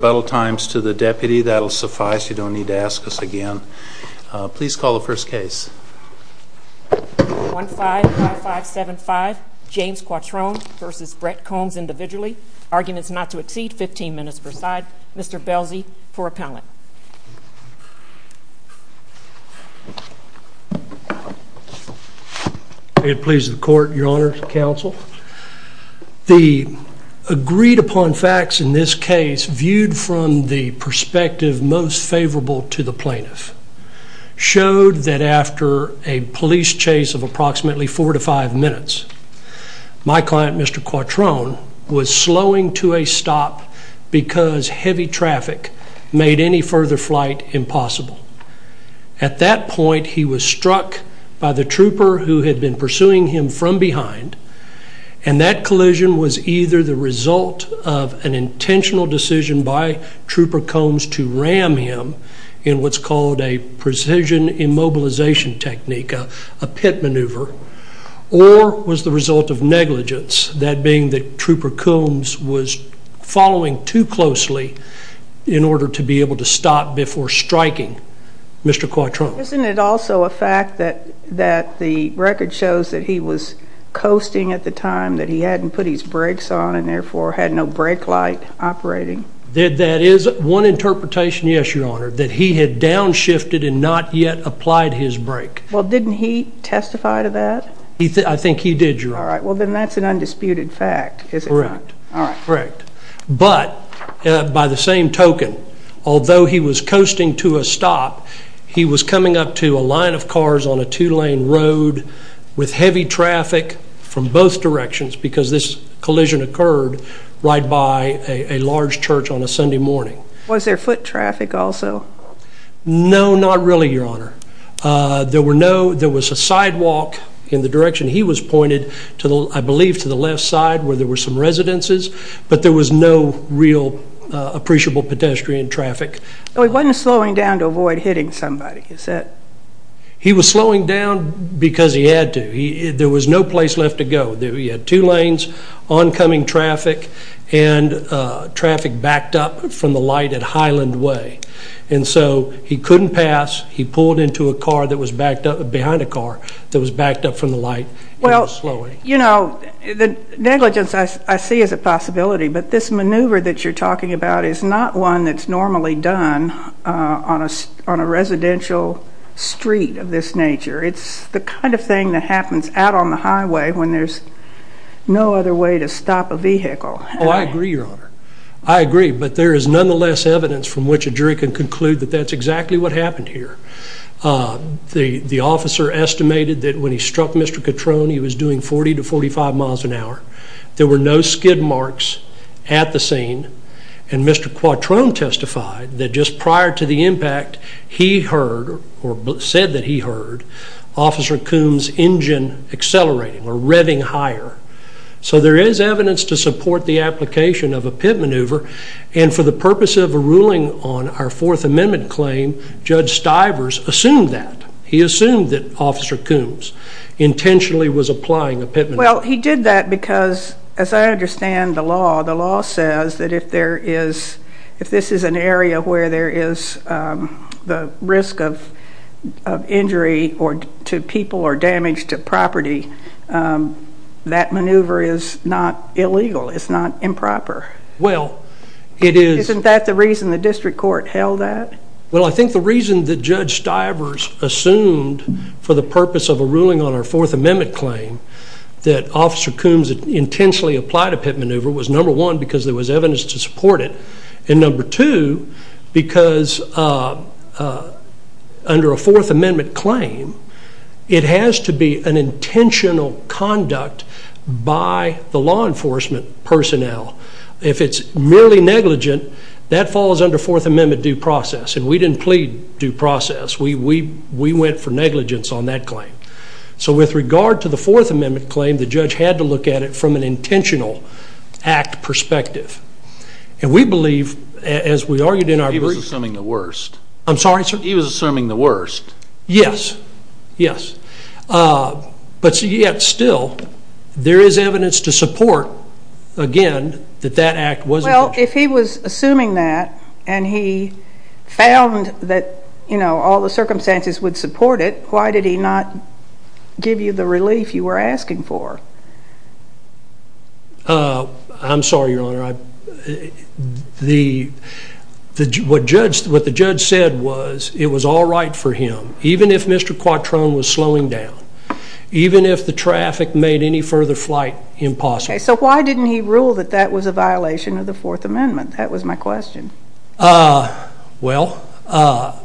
Rebuttal times to the deputy, that will suffice, you don't need to ask us again. Please call the first case. 155575, James Coitrone v. Brett Combs individually. Arguments not to exceed 15 minutes per side. Mr. Belsey for appellate. I get the pleasure of the court, your honor, counsel. The agreed upon facts in this case viewed from the perspective most favorable to the plaintiff showed that after a police chase of approximately 4 to 5 minutes, my client Mr. Coitrone was slowing to a stop because heavy traffic made any further flight impossible. At that point he was struck by the trooper who had been pursuing him from behind and that collision was either the result of an intentional decision by Trooper Combs to ram him in what's called a precision immobilization technique, a pit maneuver, or was the result of negligence, that being that Trooper Combs was following too closely in order to be able to stop before striking Mr. Coitrone. Isn't it also a fact that the record shows that he was coasting at the time, that he hadn't put his brakes on and therefore had no brake light operating? That is one interpretation, yes, your honor, that he had downshifted and not yet applied his brake. Well, didn't he testify to that? I think he did, your honor. All right, well then that's an undisputed fact, is it not? Correct. But, by the same token, although he was coasting to a stop, he was coming up to a line of cars on a two-lane road with heavy traffic from both directions because this collision occurred right by a large church on a Sunday morning. Was there foot traffic also? No, not really, your honor. There was a sidewalk in the direction he was pointed, I believe to the left side where there were some residences, but there was no real appreciable pedestrian traffic. Oh, he wasn't slowing down to avoid hitting somebody, is that? He was slowing down because he had to. There was no place left to go. He had two lanes, oncoming traffic, and traffic backed up from the light at Highland Way. And so he couldn't pass. He pulled into a car that was backed up, behind a car, that was backed up from the light and was slowing. You know, the negligence I see as a possibility, but this maneuver that you're talking about is not one that's normally done on a residential street of this nature. It's the kind of thing that happens out on the highway when there's no other way to stop a vehicle. Oh, I agree, your honor. I agree, but there is nonetheless evidence from which a jury can conclude that that's exactly what happened here. The officer estimated that when he struck Mr. Quattrone, he was doing 40 to 45 miles an hour. There were no skid marks at the scene, and Mr. Quattrone testified that just prior to the impact, he heard, or said that he heard, Officer Coombs' engine accelerating, or revving higher. So there is evidence to support the application of a pit maneuver, and for the purpose of drivers, assumed that. He assumed that Officer Coombs intentionally was applying a pit maneuver. Well, he did that because, as I understand the law, the law says that if this is an area where there is the risk of injury to people or damage to property, that maneuver is not illegal. It's not improper. Isn't that the reason the district court held that? Well, I think the reason that Judge Stivers assumed for the purpose of a ruling on our Fourth Amendment claim that Officer Coombs intentionally applied a pit maneuver was, number one, because there was evidence to support it, and number two, because under a Fourth Amendment claim, it has to be an intentional conduct by the law enforcement personnel. If it's merely negligent, that falls under Fourth Amendment due process, and we didn't plead due process. We went for negligence on that claim. So with regard to the Fourth Amendment claim, the judge had to look at it from an intentional act perspective. And we believe, as we argued in our briefs... He was assuming the worst. I'm sorry, sir? He was assuming the worst. Yes, yes. But yet still, there is evidence to support, again, that that act wasn't... Well, if he was assuming that, and he found that all the circumstances would support it, why did he not give you the relief you were asking for? I'm sorry, Your Honor. What the judge said was it was all right for him, even if Mr. Quattrone was slowing down, even if the traffic made any further flight impossible. So why didn't he rule that that was a violation of the Fourth Amendment? That was my question. Well,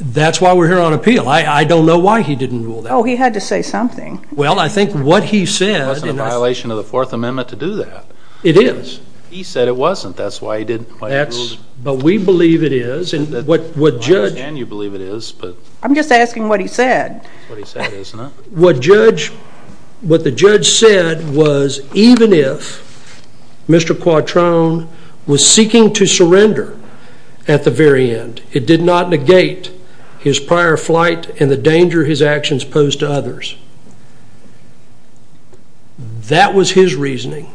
that's why we're here on appeal. I don't know why he didn't rule that way. Oh, he had to say something. Well, I think what he said... It wasn't a violation of the Fourth Amendment to do that. It is. He said it wasn't. That's why he didn't... That's... But we believe it is. And what judge... I understand you believe it is, but... I'm just asking what he said. That's what he said, isn't it? What the judge said was even if Mr. Quattrone was seeking to surrender at the very end, it did not negate his prior flight and the danger his actions posed to others. That was his reasoning.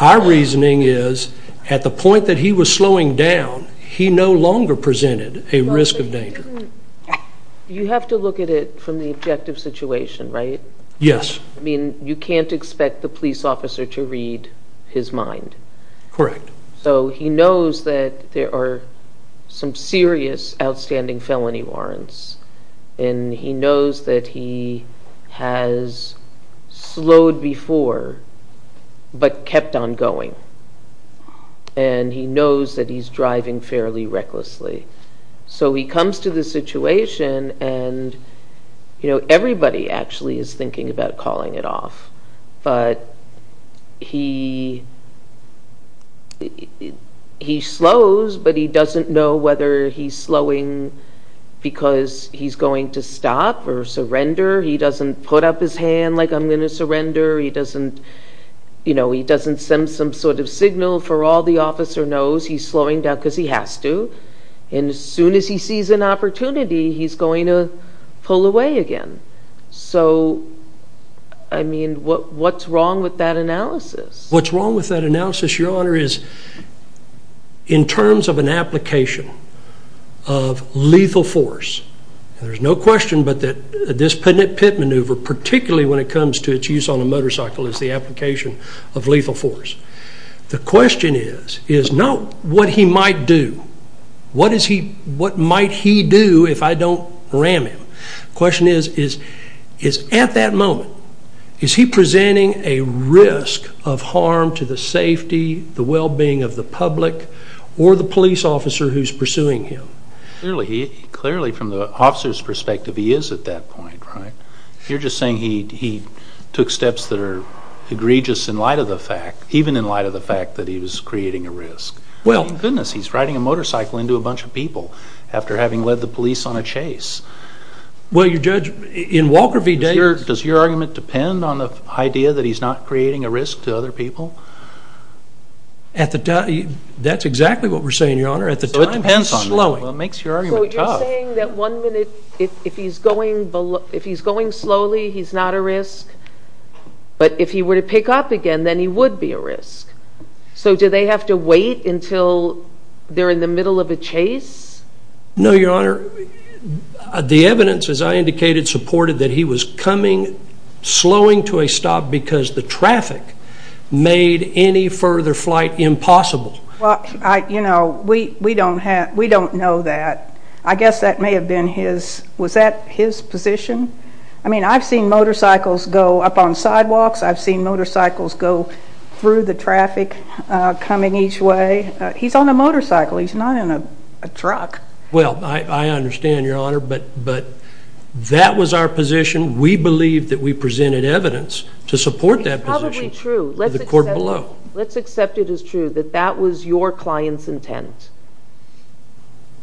Our reasoning is at the point that he was slowing down, he no longer presented a risk of danger. Well, but he didn't... You have to look at it from the objective situation, right? Yes. I mean, you can't expect the police officer to read his mind. Correct. So he knows that there are some serious outstanding felony warrants, and he knows that he has has slowed before, but kept on going. And he knows that he's driving fairly recklessly. So he comes to the situation and everybody actually is thinking about calling it off, but he slows, but he doesn't know whether he's slowing because he's going to stop or he doesn't put up his hand like, I'm going to surrender. He doesn't send some sort of signal for all the officer knows he's slowing down because he has to. And as soon as he sees an opportunity, he's going to pull away again. So I mean, what's wrong with that analysis? What's wrong with that analysis, Your Honor, is in terms of an application of lethal force, and there's no question but that this pit maneuver, particularly when it comes to its use on a motorcycle, is the application of lethal force. The question is, is not what he might do, what might he do if I don't ram him? Question is, is at that moment, is he presenting a risk of harm to the safety, the well-being of the public, or the police officer who's pursuing him? Clearly, from the officer's perspective, he is at that point, right? You're just saying he took steps that are egregious in light of the fact, even in light of the fact that he was creating a risk. I mean, goodness, he's riding a motorcycle into a bunch of people after having led the police on a chase. Well your judge, in Walker v. Davis... Does your argument depend on the idea that he's not creating a risk to other people? That's exactly what we're saying, Your Honor. At the time... Well, it makes your argument tough. So you're saying that one minute, if he's going slowly, he's not a risk, but if he were to pick up again, then he would be a risk. So do they have to wait until they're in the middle of a chase? No Your Honor. The evidence, as I indicated, supported that he was coming, slowing to a stop because the traffic made any further flight impossible. Well, you know, we don't know that. I guess that may have been his... Was that his position? I mean, I've seen motorcycles go up on sidewalks. I've seen motorcycles go through the traffic, coming each way. He's on a motorcycle. He's not in a truck. Well, I understand, Your Honor, but that was our position. We believe that we presented evidence to support that position to the court below. Let's accept it as true that that was your client's intent,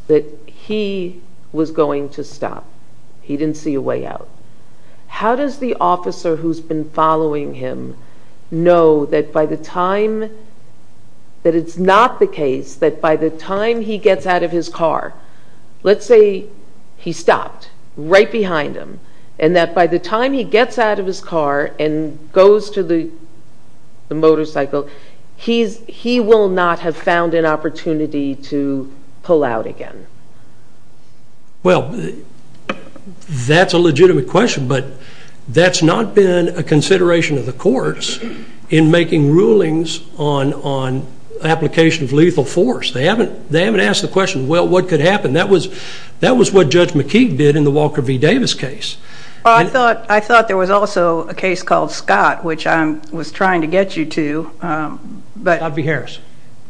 that he was going to stop. He didn't see a way out. How does the officer who's been following him know that by the time... That it's not the case that by the time he gets out of his car, let's say he stopped right behind him, and that by the time he gets out of his car and goes to the motorcycle, he will not have found an opportunity to pull out again? Well, that's a legitimate question, but that's not been a consideration of the courts in making rulings on application of lethal force. They haven't asked the question, well, what could happen? That was what Judge McKeague did in the Walker v. Davis case. I thought there was also a case called Scott, which I was trying to get you to. Scott v. Harris.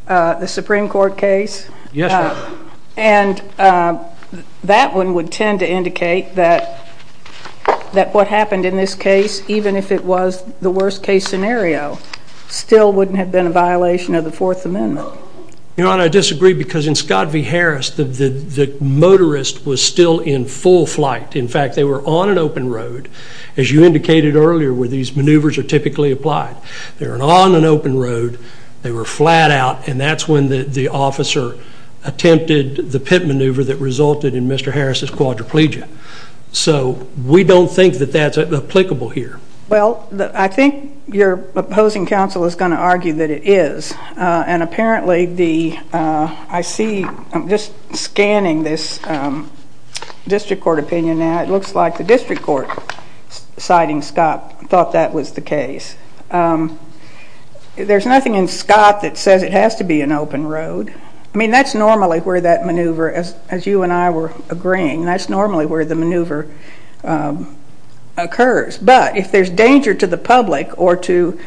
The Supreme Court case? Yes, Your Honor. And that one would tend to indicate that what happened in this case, even if it was the worst case scenario, still wouldn't have been a violation of the Fourth Amendment. Your Honor, I disagree because in Scott v. Harris, the motorist was still in full flight. In fact, they were on an open road, as you indicated earlier, where these maneuvers are typically applied. They were on an open road, they were flat out, and that's when the officer attempted the pit maneuver that resulted in Mr. Harris' quadriplegia. So we don't think that that's applicable here. Well, I think your opposing counsel is going to argue that it is. And apparently the, I see, I'm just scanning this district court opinion now, it looks like the district court, citing Scott, thought that was the case. There's nothing in Scott that says it has to be an open road. I mean, that's normally where that maneuver, as you and I were agreeing, that's normally where the maneuver occurs. But if there's danger to the public or to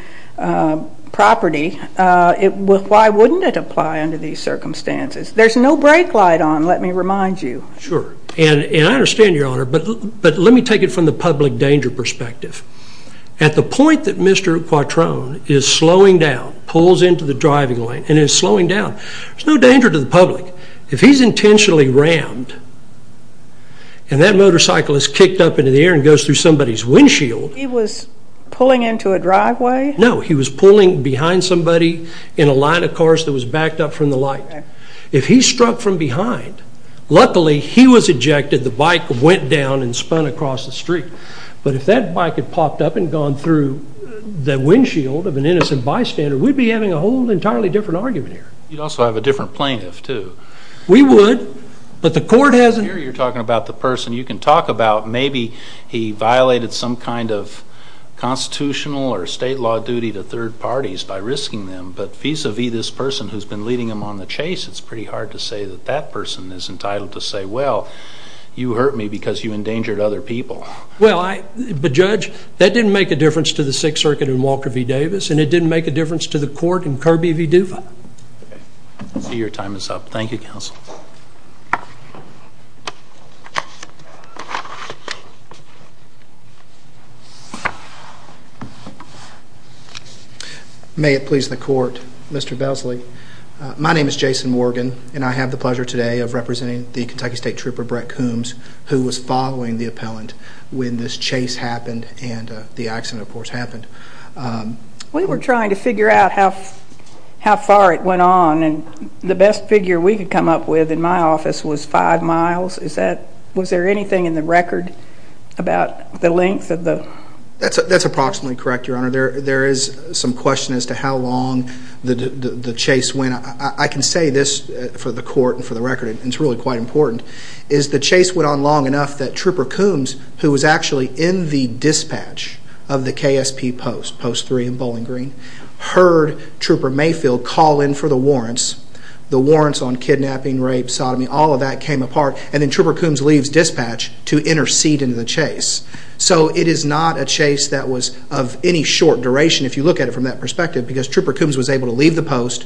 property, why wouldn't it apply under these circumstances? There's no brake light on, let me remind you. Sure. And I understand, your Honor, but let me take it from the public danger perspective. At the point that Mr. Quattrone is slowing down, pulls into the driving lane, and is slowing down, there's no danger to the public. If he's intentionally rammed, and that motorcycle is kicked up into the air and goes through somebody's windshield. He was pulling into a driveway? No, he was pulling behind somebody in a line of cars that was backed up from the light. If he struck from behind, luckily he was ejected, the bike went down and spun across the street. But if that bike had popped up and gone through the windshield of an innocent bystander, we'd be having a whole entirely different argument here. You'd also have a different plaintiff, too. We would. But the court hasn't. I hear you're talking about the person you can talk about, maybe he violated some kind of constitutional or state law duty to third parties by risking them, but vis-a-vis this person who's been leading them on the chase, it's pretty hard to say that that person is entitled to say, well, you hurt me because you endangered other people. Well, Judge, that didn't make a difference to the Sixth Circuit in Walker v. Davis, and it didn't make a difference to the court in Kirby v. Duva. Your time is up. Thank you, Counsel. May it please the Court, Mr. Besley. My name is Jason Morgan, and I have the pleasure today of representing the Kentucky State Trooper Brett Coombs, who was following the appellant when this chase happened and the accident, of course, happened. We were trying to figure out how far it went on, and the best figure we could come up with in my office was five miles. Was there anything in the record about the length of the... That's approximately correct, Your Honor. There is some question as to how long the chase went. I can say this for the court and for the record, and it's really quite important, is the chase went on long enough that Trooper Coombs, who was actually in the dispatch of the KSP Post, Post 3 in Bowling Green, heard Trooper Mayfield call in for the warrants, the warrants on kidnapping, rape, sodomy, all of that came apart, and then Trooper Coombs leaves dispatch to intercede in the chase. So it is not a chase that was of any short duration, if you look at it from that perspective, because Trooper Coombs was able to leave the post,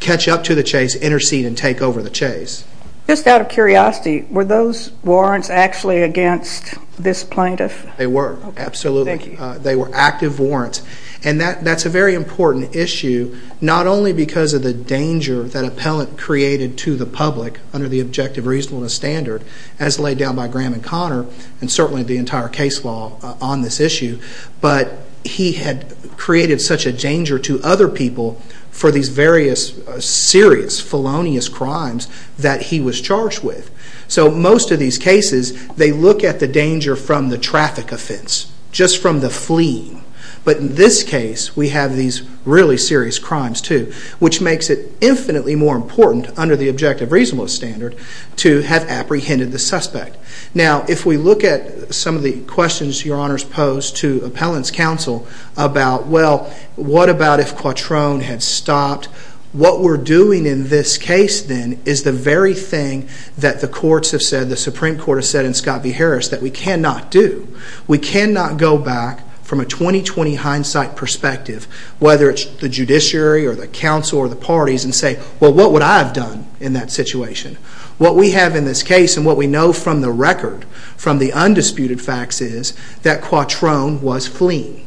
catch up to the chase, intercede and take over the chase. Just out of curiosity, were those warrants actually against this plaintiff? They were, absolutely. They were active warrants, and that's a very important issue, not only because of the danger that appellant created to the public under the objective reasonableness standard, as laid down by Graham and Connor, and certainly the entire case law on this issue, but he had created such a danger to other people for these various serious felonious crimes that he was charged with. So most of these cases, they look at the danger from the traffic offense, just from the fleeing. But in this case, we have these really serious crimes too, which makes it infinitely more important under the objective reasonableness standard to have apprehended the suspect. Now if we look at some of the questions your honors posed to appellant's counsel about, well, what about if Quattrone had stopped, what we're doing in this case then is the very thing that the courts have said, the Supreme Court has said in Scott v. Harris that we cannot do. We cannot go back from a 20-20 hindsight perspective, whether it's the judiciary or the counsel or the parties and say, well, what would I have done in that situation? What we have in this case and what we know from the record from the undisputed facts is that Quattrone was fleeing,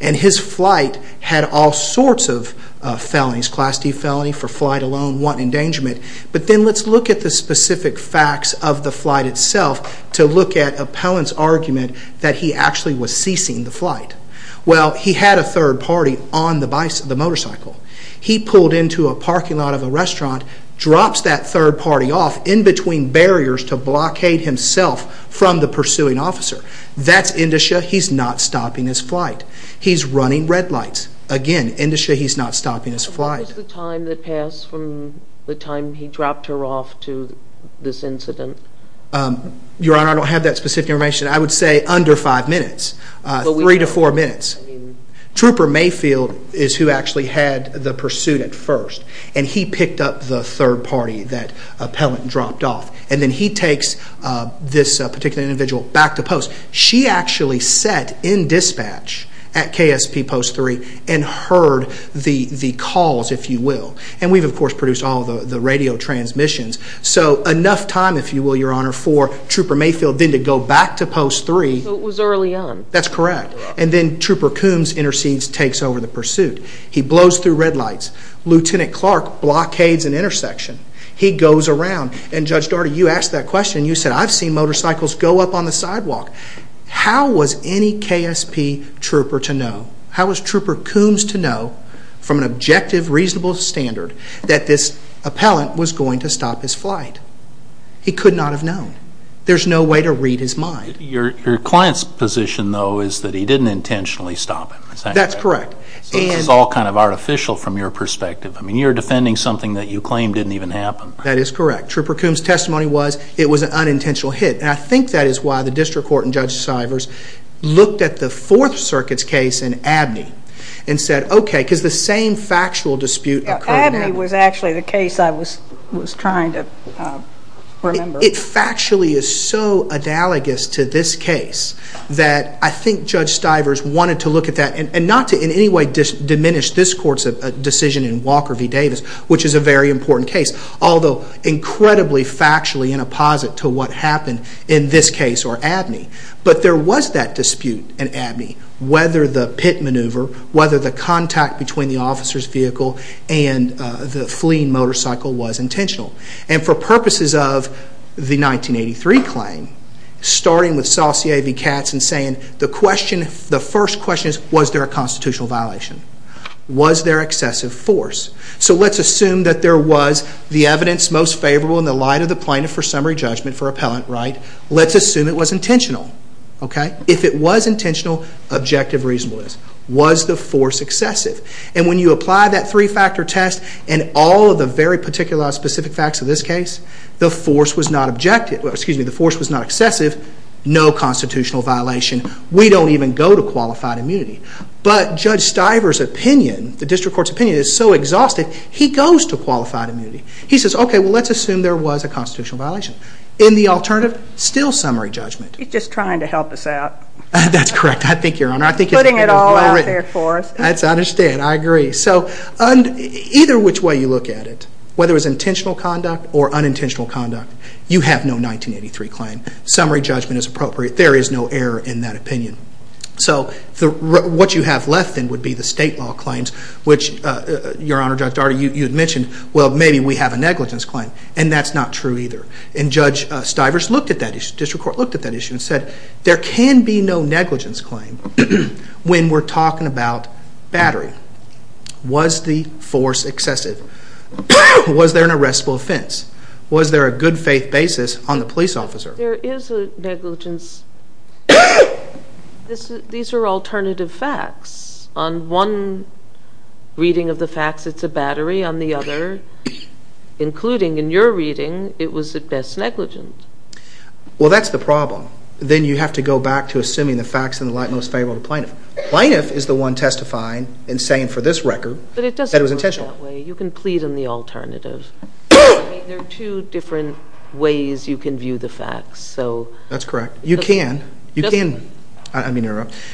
and his flight had all sorts of felonies, class D felony for flight alone, one endangerment. But then let's look at the specific facts of the flight itself to look at appellant's argument that he actually was ceasing the flight. Well, he had a third party on the motorcycle. He pulled into a parking lot of a restaurant, drops that third party off in between barriers to blockade himself from the pursuing officer. That's indicia. He's not stopping his flight. He's running red lights. Again, indicia. He's not stopping his flight. When was the time that passed from the time he dropped her off to this incident? Your Honor, I don't have that specific information. I would say under five minutes, three to four minutes. Trooper Mayfield is who actually had the pursuit at first, and he picked up the third party that appellant dropped off. And then he takes this particular individual back to post. She actually sat in dispatch at KSP post three and heard the calls, if you will. And we've, of course, produced all the radio transmissions. So enough time, if you will, Your Honor, for Trooper Mayfield, then to go back to post three. So it was early on. That's correct. And then Trooper Coombs intercedes, takes over the pursuit. He blows through red lights. Lieutenant Clark blockades an intersection. He goes around, and Judge Daugherty, you asked that question. You said, I've seen motorcycles go up on the sidewalk. How was any KSP trooper to know? How was Trooper Coombs to know from an objective, reasonable standard that this appellant was going to stop his flight? He could not have known. There's no way to read his mind. Your client's position, though, is that he didn't intentionally stop him, is that correct? That's correct. So this is all kind of artificial from your perspective. I mean, you're defending something that you claim didn't even happen. That is correct. Trooper Coombs' testimony was it was an unintentional hit. And I think that is why the district court and Judge Stivers looked at the Fourth Circuit's case in Abney and said, OK, because the same factual dispute occurred in Abney. Abney was actually the case I was trying to remember. It factually is so analogous to this case that I think Judge Stivers wanted to look at that and not to in any way diminish this court's decision in Walker v. Davis, which is a very important case. Although incredibly factually in apposite to what happened in this case or Abney. But there was that dispute in Abney, whether the pit maneuver, whether the contact between the officer's vehicle and the fleeing motorcycle was intentional. And for purposes of the 1983 claim, starting with Saucier v. Katz and saying the question, the first question is, was there a constitutional violation? Was there excessive force? So let's assume that there was the evidence most favorable in the light of the plaintiff for summary judgment for appellant right. Let's assume it was intentional. If it was intentional, objective reasonableness. Was the force excessive? And when you apply that three-factor test and all of the very particular specific facts of this case, the force was not excessive, no constitutional violation. We don't even go to qualified immunity. But Judge Stiver's opinion, the district court's opinion is so exhausted, he goes to qualified immunity. He says, okay, well let's assume there was a constitutional violation. In the alternative, still summary judgment. He's just trying to help us out. That's correct. I think your honor. Putting it all out there for us. I understand. I agree. So either which way you look at it, whether it was intentional conduct or unintentional conduct, you have no 1983 claim. Summary judgment is appropriate. There is no error in that opinion. So what you have left then would be the state law claims, which your honor, Judge Daugherty, you had mentioned, well maybe we have a negligence claim. And that's not true either. And Judge Stiver's looked at that issue, district court looked at that issue and said, there can be no negligence claim when we're talking about battery. Was the force excessive? Was there an arrestable offense? Was there a good faith basis on the police officer? There is a negligence. These are alternative facts. On one reading of the facts, it's a battery. On the other, including in your reading, it was at best negligent. Well that's the problem. Then you have to go back to assuming the facts in the light most favorable to plaintiff. Plaintiff is the one testifying and saying for this record that it was intentional. You can plead in the alternative. I mean there are two different ways you can view the facts. That's correct. You can. You can. I mean,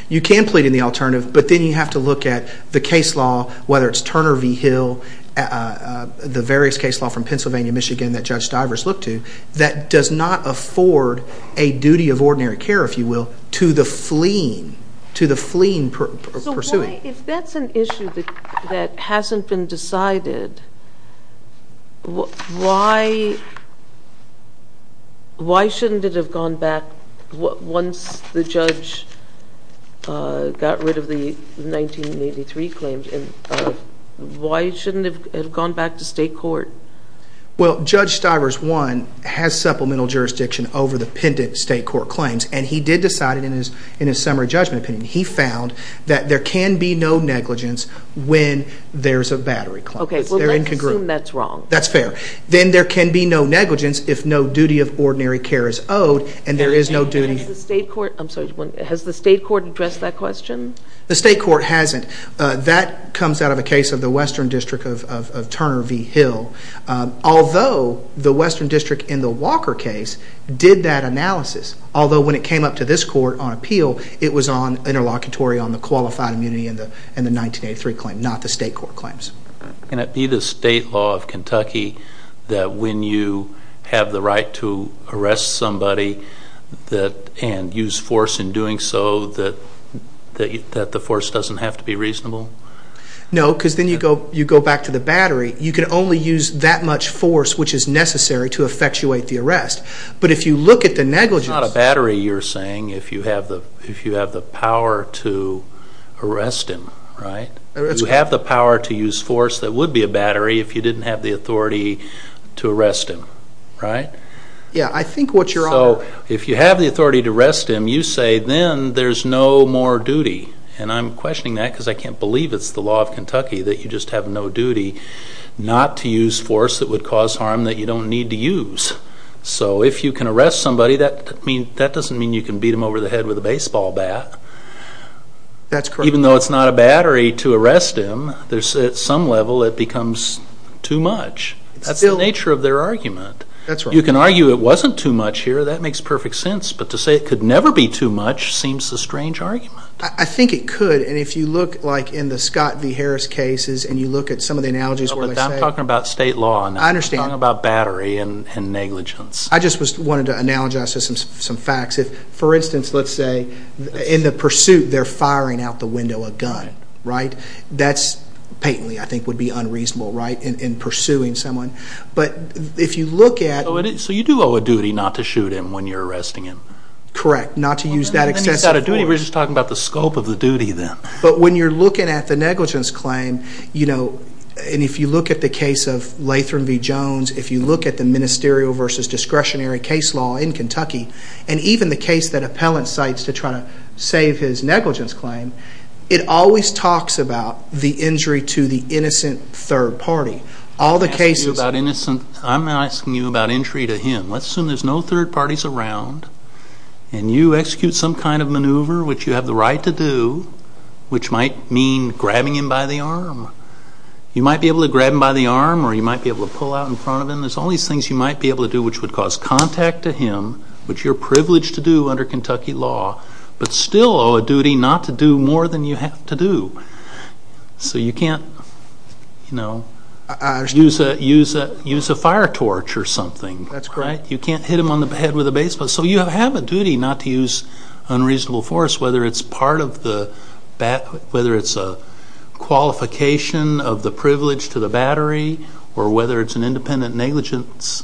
you can plead in the alternative, but then you have to look at the case law, whether it's Turner v. Hill, the various case law from Pennsylvania, Michigan that Judge Stiver's looked to, that does not afford a duty of ordinary care, if you will, to the fleeing, to the fleeing pursuant. If that's an issue that hasn't been decided, why shouldn't it have gone back, once the judge got rid of the 1983 claims, why shouldn't it have gone back to state court? Well Judge Stiver's, one, has supplemental jurisdiction over the pendent state court claims and he did decide it in his summary judgment opinion. He found that there can be no negligence when there's a battery claim. Okay. Well, let's assume that's wrong. That's fair. Then there can be no negligence if no duty of ordinary care is owed and there is no duty. And has the state court, I'm sorry, has the state court addressed that question? The state court hasn't. That comes out of a case of the Western District of Turner v. Hill. Although the Western District in the Walker case did that analysis, although when it came up to this court on appeal, it was on interlocutory on the qualified immunity and the 1983 claim, not the state court claims. Can it be the state law of Kentucky that when you have the right to arrest somebody and use force in doing so, that the force doesn't have to be reasonable? No, because then you go back to the battery. You can only use that much force, which is necessary to effectuate the arrest. But if you look at the negligence. But it's not a battery, you're saying, if you have the power to arrest him, right? You have the power to use force that would be a battery if you didn't have the authority to arrest him, right? Yeah, I think what you're arguing. If you have the authority to arrest him, you say then there's no more duty. And I'm questioning that because I can't believe it's the law of Kentucky that you just have no duty not to use force that would cause harm that you don't need to use. So if you can arrest somebody, that doesn't mean you can beat them over the head with a baseball bat. Even though it's not a battery to arrest him, at some level it becomes too much. That's the nature of their argument. You can argue it wasn't too much here, that makes perfect sense. But to say it could never be too much seems a strange argument. I think it could. And if you look like in the Scott v. Harris cases and you look at some of the analogies where they say... I'm talking about state law. I understand. I'm talking about battery and negligence. I just wanted to analogize some facts. For instance, let's say in the pursuit they're firing out the window a gun, right? That's patently, I think, would be unreasonable, right, in pursuing someone. But if you look at... So you do owe a duty not to shoot him when you're arresting him. Correct. Not to use that excessive force. We're not talking about a duty, we're just talking about the scope of the duty then. But when you're looking at the negligence claim, you know, and if you look at the case of Latham v. Jones, if you look at the ministerial versus discretionary case law in Kentucky, and even the case that Appellant cites to try to save his negligence claim, it always talks about the injury to the innocent third party. All the cases... I'm not asking you about injury to him. Let's assume there's no third parties around and you execute some kind of maneuver which you have the right to do, which might mean grabbing him by the arm. You might be able to grab him by the arm or you might be able to pull out in front of him. There's all these things you might be able to do which would cause contact to him, which you're privileged to do under Kentucky law, but still owe a duty not to do more than you have to do. So you can't, you know, use a fire torch or something. That's correct. You can't hit him on the head with a baseball. So you have a duty not to use unreasonable force, whether it's part of the...whether it's a qualification of the privilege to the battery or whether it's an independent negligence.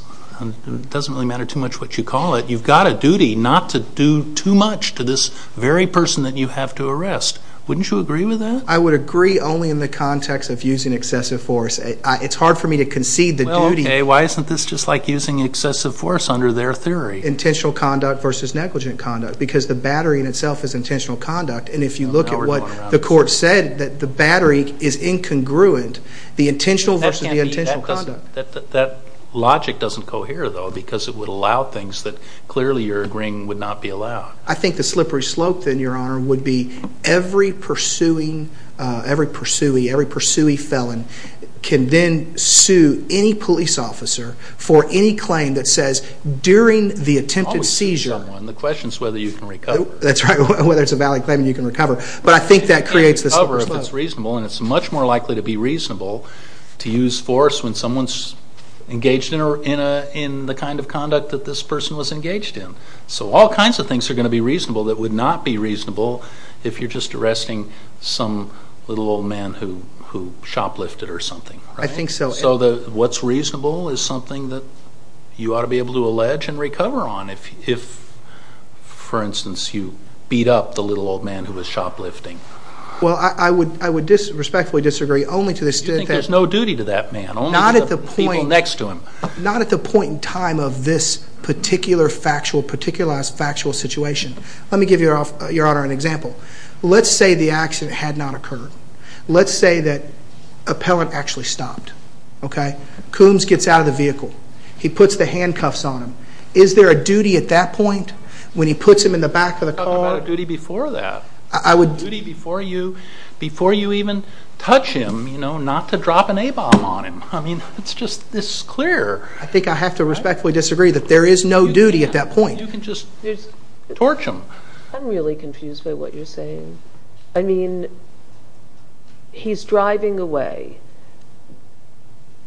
It doesn't really matter too much what you call it. You've got a duty not to do too much to this very person that you have to arrest. Wouldn't you agree with that? I would agree only in the context of using excessive force. It's hard for me to concede the duty... Well, okay. Why isn't this just like using excessive force under their theory? Intentional conduct versus negligent conduct, because the battery in itself is intentional conduct. And if you look at what the court said, that the battery is incongruent, the intentional versus the intentional conduct. That logic doesn't cohere though, because it would allow things that clearly you're agreeing would not be allowed. I think the slippery slope then, Your Honor, would be every pursuing, every pursui, every police officer for any claim that says during the attempted seizure... The question is whether you can recover. That's right. Whether it's a valid claim that you can recover. But I think that creates the slippery slope. You can't recover if it's reasonable, and it's much more likely to be reasonable to use force when someone's engaged in the kind of conduct that this person was engaged in. So all kinds of things are going to be reasonable that would not be reasonable if you're just arresting some little old man who shoplifted or something. I think so. So what's reasonable is something that you ought to be able to allege and recover on if, for instance, you beat up the little old man who was shoplifting. Well, I would respectfully disagree only to the extent that... Do you think there's no duty to that man? Not at the point... Only to the people next to him. Not at the point in time of this particular factual, particularized factual situation. Let me give Your Honor an example. Let's say the accident had not occurred. Let's say that an appellant actually stopped, okay? Coombs gets out of the vehicle. He puts the handcuffs on him. Is there a duty at that point when he puts him in the back of the car? You talked about a duty before that. I would... A duty before you even touch him, not to drop an A-bomb on him. I mean, it's just this clear. I think I have to respectfully disagree that there is no duty at that point. You can just torch him. I'm really confused by what you're saying. I mean, he's driving away.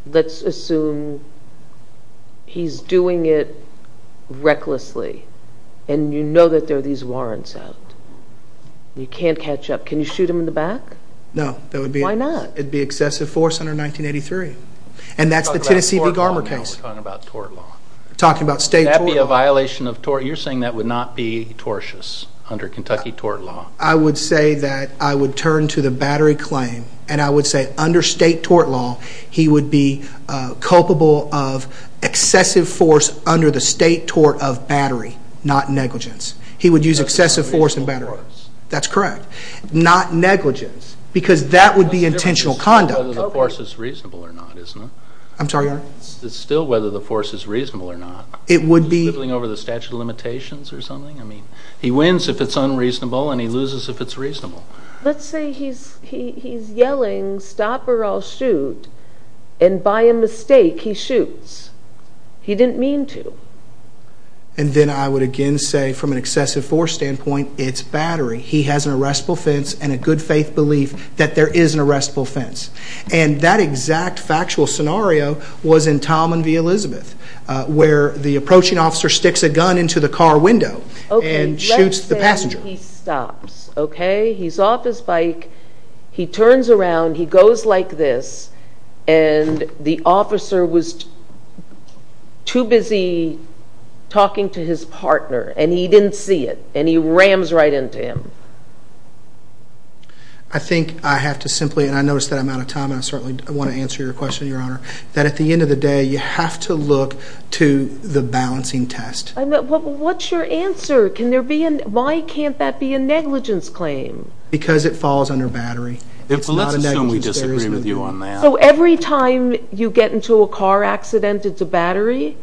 Let's assume he's doing it recklessly and you know that there are these warrants out. You can't catch up. Can you shoot him in the back? No. That would be... Why not? It would be excessive force under 1983. And that's the Tennessee v. Garber case. We're talking about tort law now. We're talking about tort law. We're talking about state tort law. Would that be a violation of tort... You're saying that would not be tortious under Kentucky tort law. I would say that I would turn to the battery claim and I would say under state tort law, he would be culpable of excessive force under the state tort of battery, not negligence. He would use excessive force in battery. That's correct. Not negligence, because that would be intentional conduct. The difference is still whether the force is reasonable or not, isn't it? I'm sorry, Your Honor? It's still whether the force is reasonable or not. It would be... Flipping over the statute of limitations or something? I mean, he wins if it's unreasonable and he loses if it's reasonable. Let's say he's yelling, stop or I'll shoot, and by a mistake he shoots. He didn't mean to. And then I would again say from an excessive force standpoint, it's battery. He has an arrestable fence and a good faith belief that there is an arrestable fence. And that exact factual scenario was in Tom and V. Elizabeth, where the approaching officer sticks a gun into the car window and shoots the passenger. Okay, let's say he stops, okay? He's off his bike. He turns around, he goes like this, and the officer was too busy talking to his partner and he didn't see it, and he rams right into him. I think I have to simply, and I notice that I'm out of time and I certainly want to answer your question, Your Honor, that at the end of the day, you have to look to the balancing test. What's your answer? Can there be, why can't that be a negligence claim? Because it falls under battery. It's not a negligence claim. Let's assume we disagree with you on that. So every time you get into a car accident, it's a battery?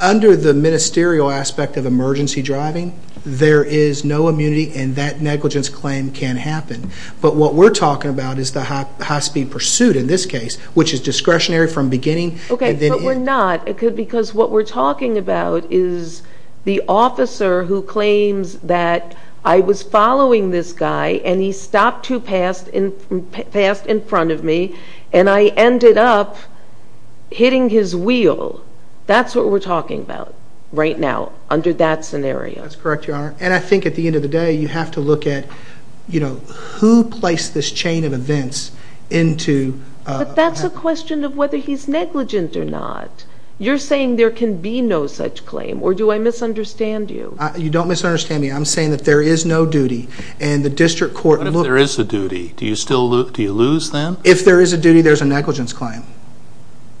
Under the ministerial aspect of emergency driving, there is no immunity and that negligence claim can happen. But what we're talking about is the high speed pursuit in this case, which is discretionary from beginning. Okay, but we're not. Because what we're talking about is the officer who claims that I was following this guy and he stopped too fast in front of me and I ended up hitting his wheel. That's what we're talking about right now, under that scenario. That's correct, Your Honor. And I think at the end of the day, you have to look at, you know, who placed this chain of events into... But that's a question of whether he's negligent or not. You're saying there can be no such claim or do I misunderstand you? You don't misunderstand me. I'm saying that there is no duty and the district court... What if there is a duty? Do you still, do you lose them? If there is a duty, there's a negligence claim.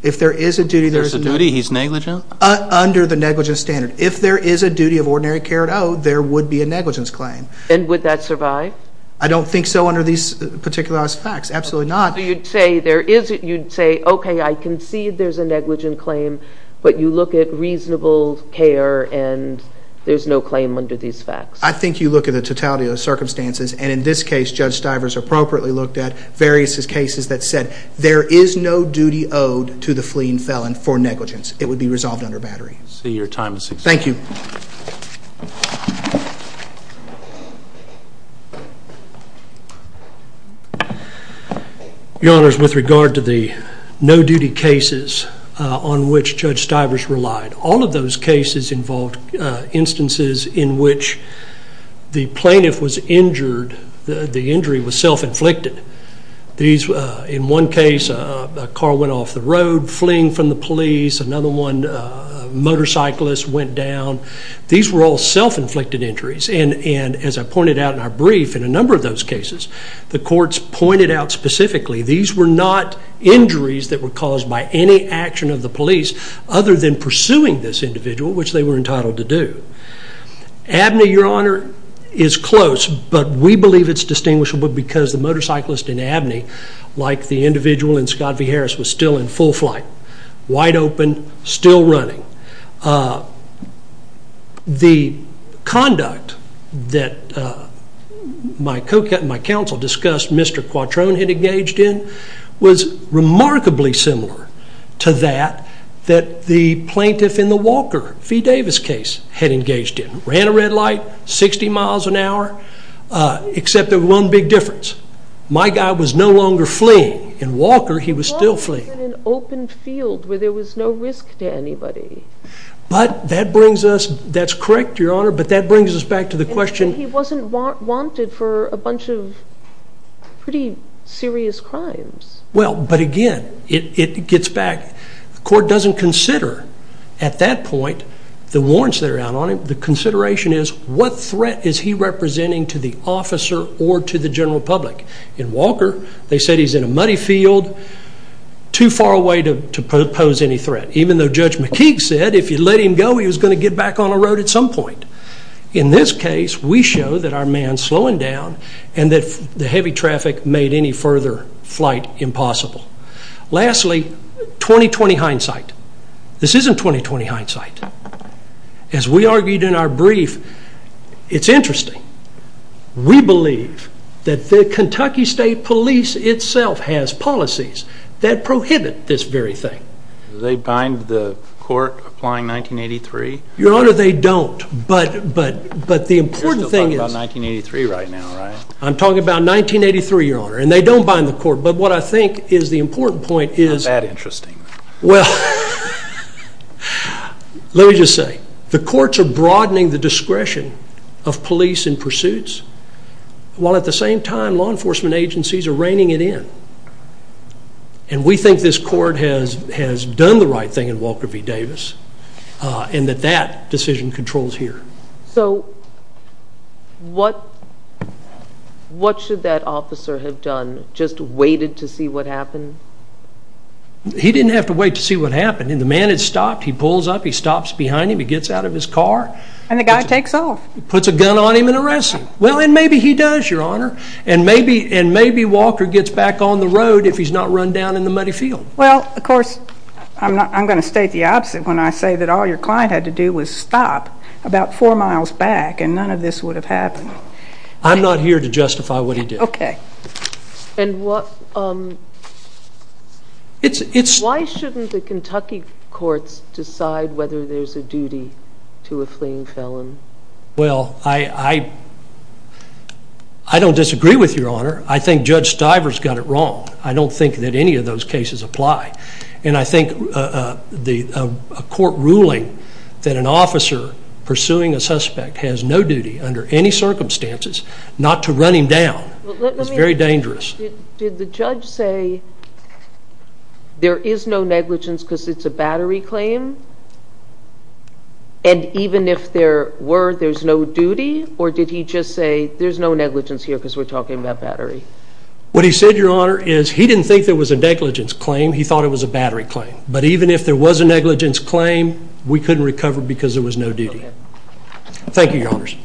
If there is a duty... If there's a duty, he's negligent? Under the negligence standard. If there is a duty of ordinary care at all, there would be a negligence claim. And would that survive? I don't think so under these particularized facts. Absolutely not. So you'd say there is, you'd say, okay, I concede there's a negligence claim, but you look at reasonable care and there's no claim under these facts. I think you look at the totality of the circumstances and in this case, Judge Stivers appropriately looked at various cases that said there is no duty owed to the fleeing felon for negligence. It would be resolved under battery. So your time has expired. Thank you. Your Honors, with regard to the no-duty cases on which Judge Stivers relied, all of those cases involved instances in which the plaintiff was injured, the injury was self-inflicted. In one case, a car went off the road fleeing from the police. Another one, a motorcyclist went down. These were all self-inflicted injuries. And as I pointed out in our brief, in a number of those cases, the courts pointed out specifically these were not injuries that were caused by any action of the police other than pursuing this individual, which they were entitled to do. Abney, Your Honor, is close, but we believe it's distinguishable because the motorcyclist in Abney, like the individual in Scott v. Harris, was still in full flight, wide open, still running. So the conduct that my counsel discussed Mr. Quattrone had engaged in was remarkably similar to that that the plaintiff in the Walker v. Davis case had engaged in. Ran a red light, 60 miles an hour, except there was one big difference. My guy was no longer fleeing. In Walker, he was still fleeing. He was in an open field where there was no risk to anybody. But that brings us, that's correct, Your Honor, but that brings us back to the question. He wasn't wanted for a bunch of pretty serious crimes. Well, but again, it gets back, the court doesn't consider at that point the warrants that are out on him. The consideration is what threat is he representing to the officer or to the general public? In Walker, they said he's in a muddy field, too far away to pose any threat. Even though Judge McKeague said if you let him go, he was going to get back on the road at some point. In this case, we show that our man's slowing down and that the heavy traffic made any further flight impossible. Lastly, 20-20 hindsight. This isn't 20-20 hindsight. As we argued in our brief, it's interesting. We believe that the Kentucky State Police itself has policies that prohibit this very thing. Do they bind the court applying 1983? Your Honor, they don't. But the important thing is... You're still talking about 1983 right now, right? I'm talking about 1983, Your Honor, and they don't bind the court. But what I think is the important point is... How's that interesting? Well, let me just say, the courts are broadening the discretion of police in pursuits while at the same time, law enforcement agencies are reining it in. And we think this court has done the right thing in Walker v. Davis and that that decision controls here. So what should that officer have done? Just waited to see what happened? He didn't have to wait to see what happened. The man had stopped. He pulls up. He stops behind him. He gets out of his car. And the guy takes off. He puts a gun on him and arrests him. Well, and maybe he does, Your Honor. And maybe Walker gets back on the road if he's not run down in the muddy field. Well, of course, I'm going to state the opposite when I say that all your client had to do was stop about four miles back and none of this would have happened. I'm not here to justify what he did. Okay. And why shouldn't the Kentucky courts decide whether there's a duty to a fleeing felon? Well, I don't disagree with Your Honor. I think Judge Stiver's got it wrong. I don't think that any of those cases apply. And I think a court ruling that an officer pursuing a suspect has no duty under any circumstances not to run him down is very dangerous. Did the judge say there is no negligence because it's a battery claim? And even if there were, there's no duty? Or did he just say there's no negligence here because we're talking about battery? What he said, Your Honor, is he didn't think there was a negligence claim. He thought it was a battery claim. But even if there was a negligence claim, we couldn't recover because there was no duty. Thank you, Your Honors.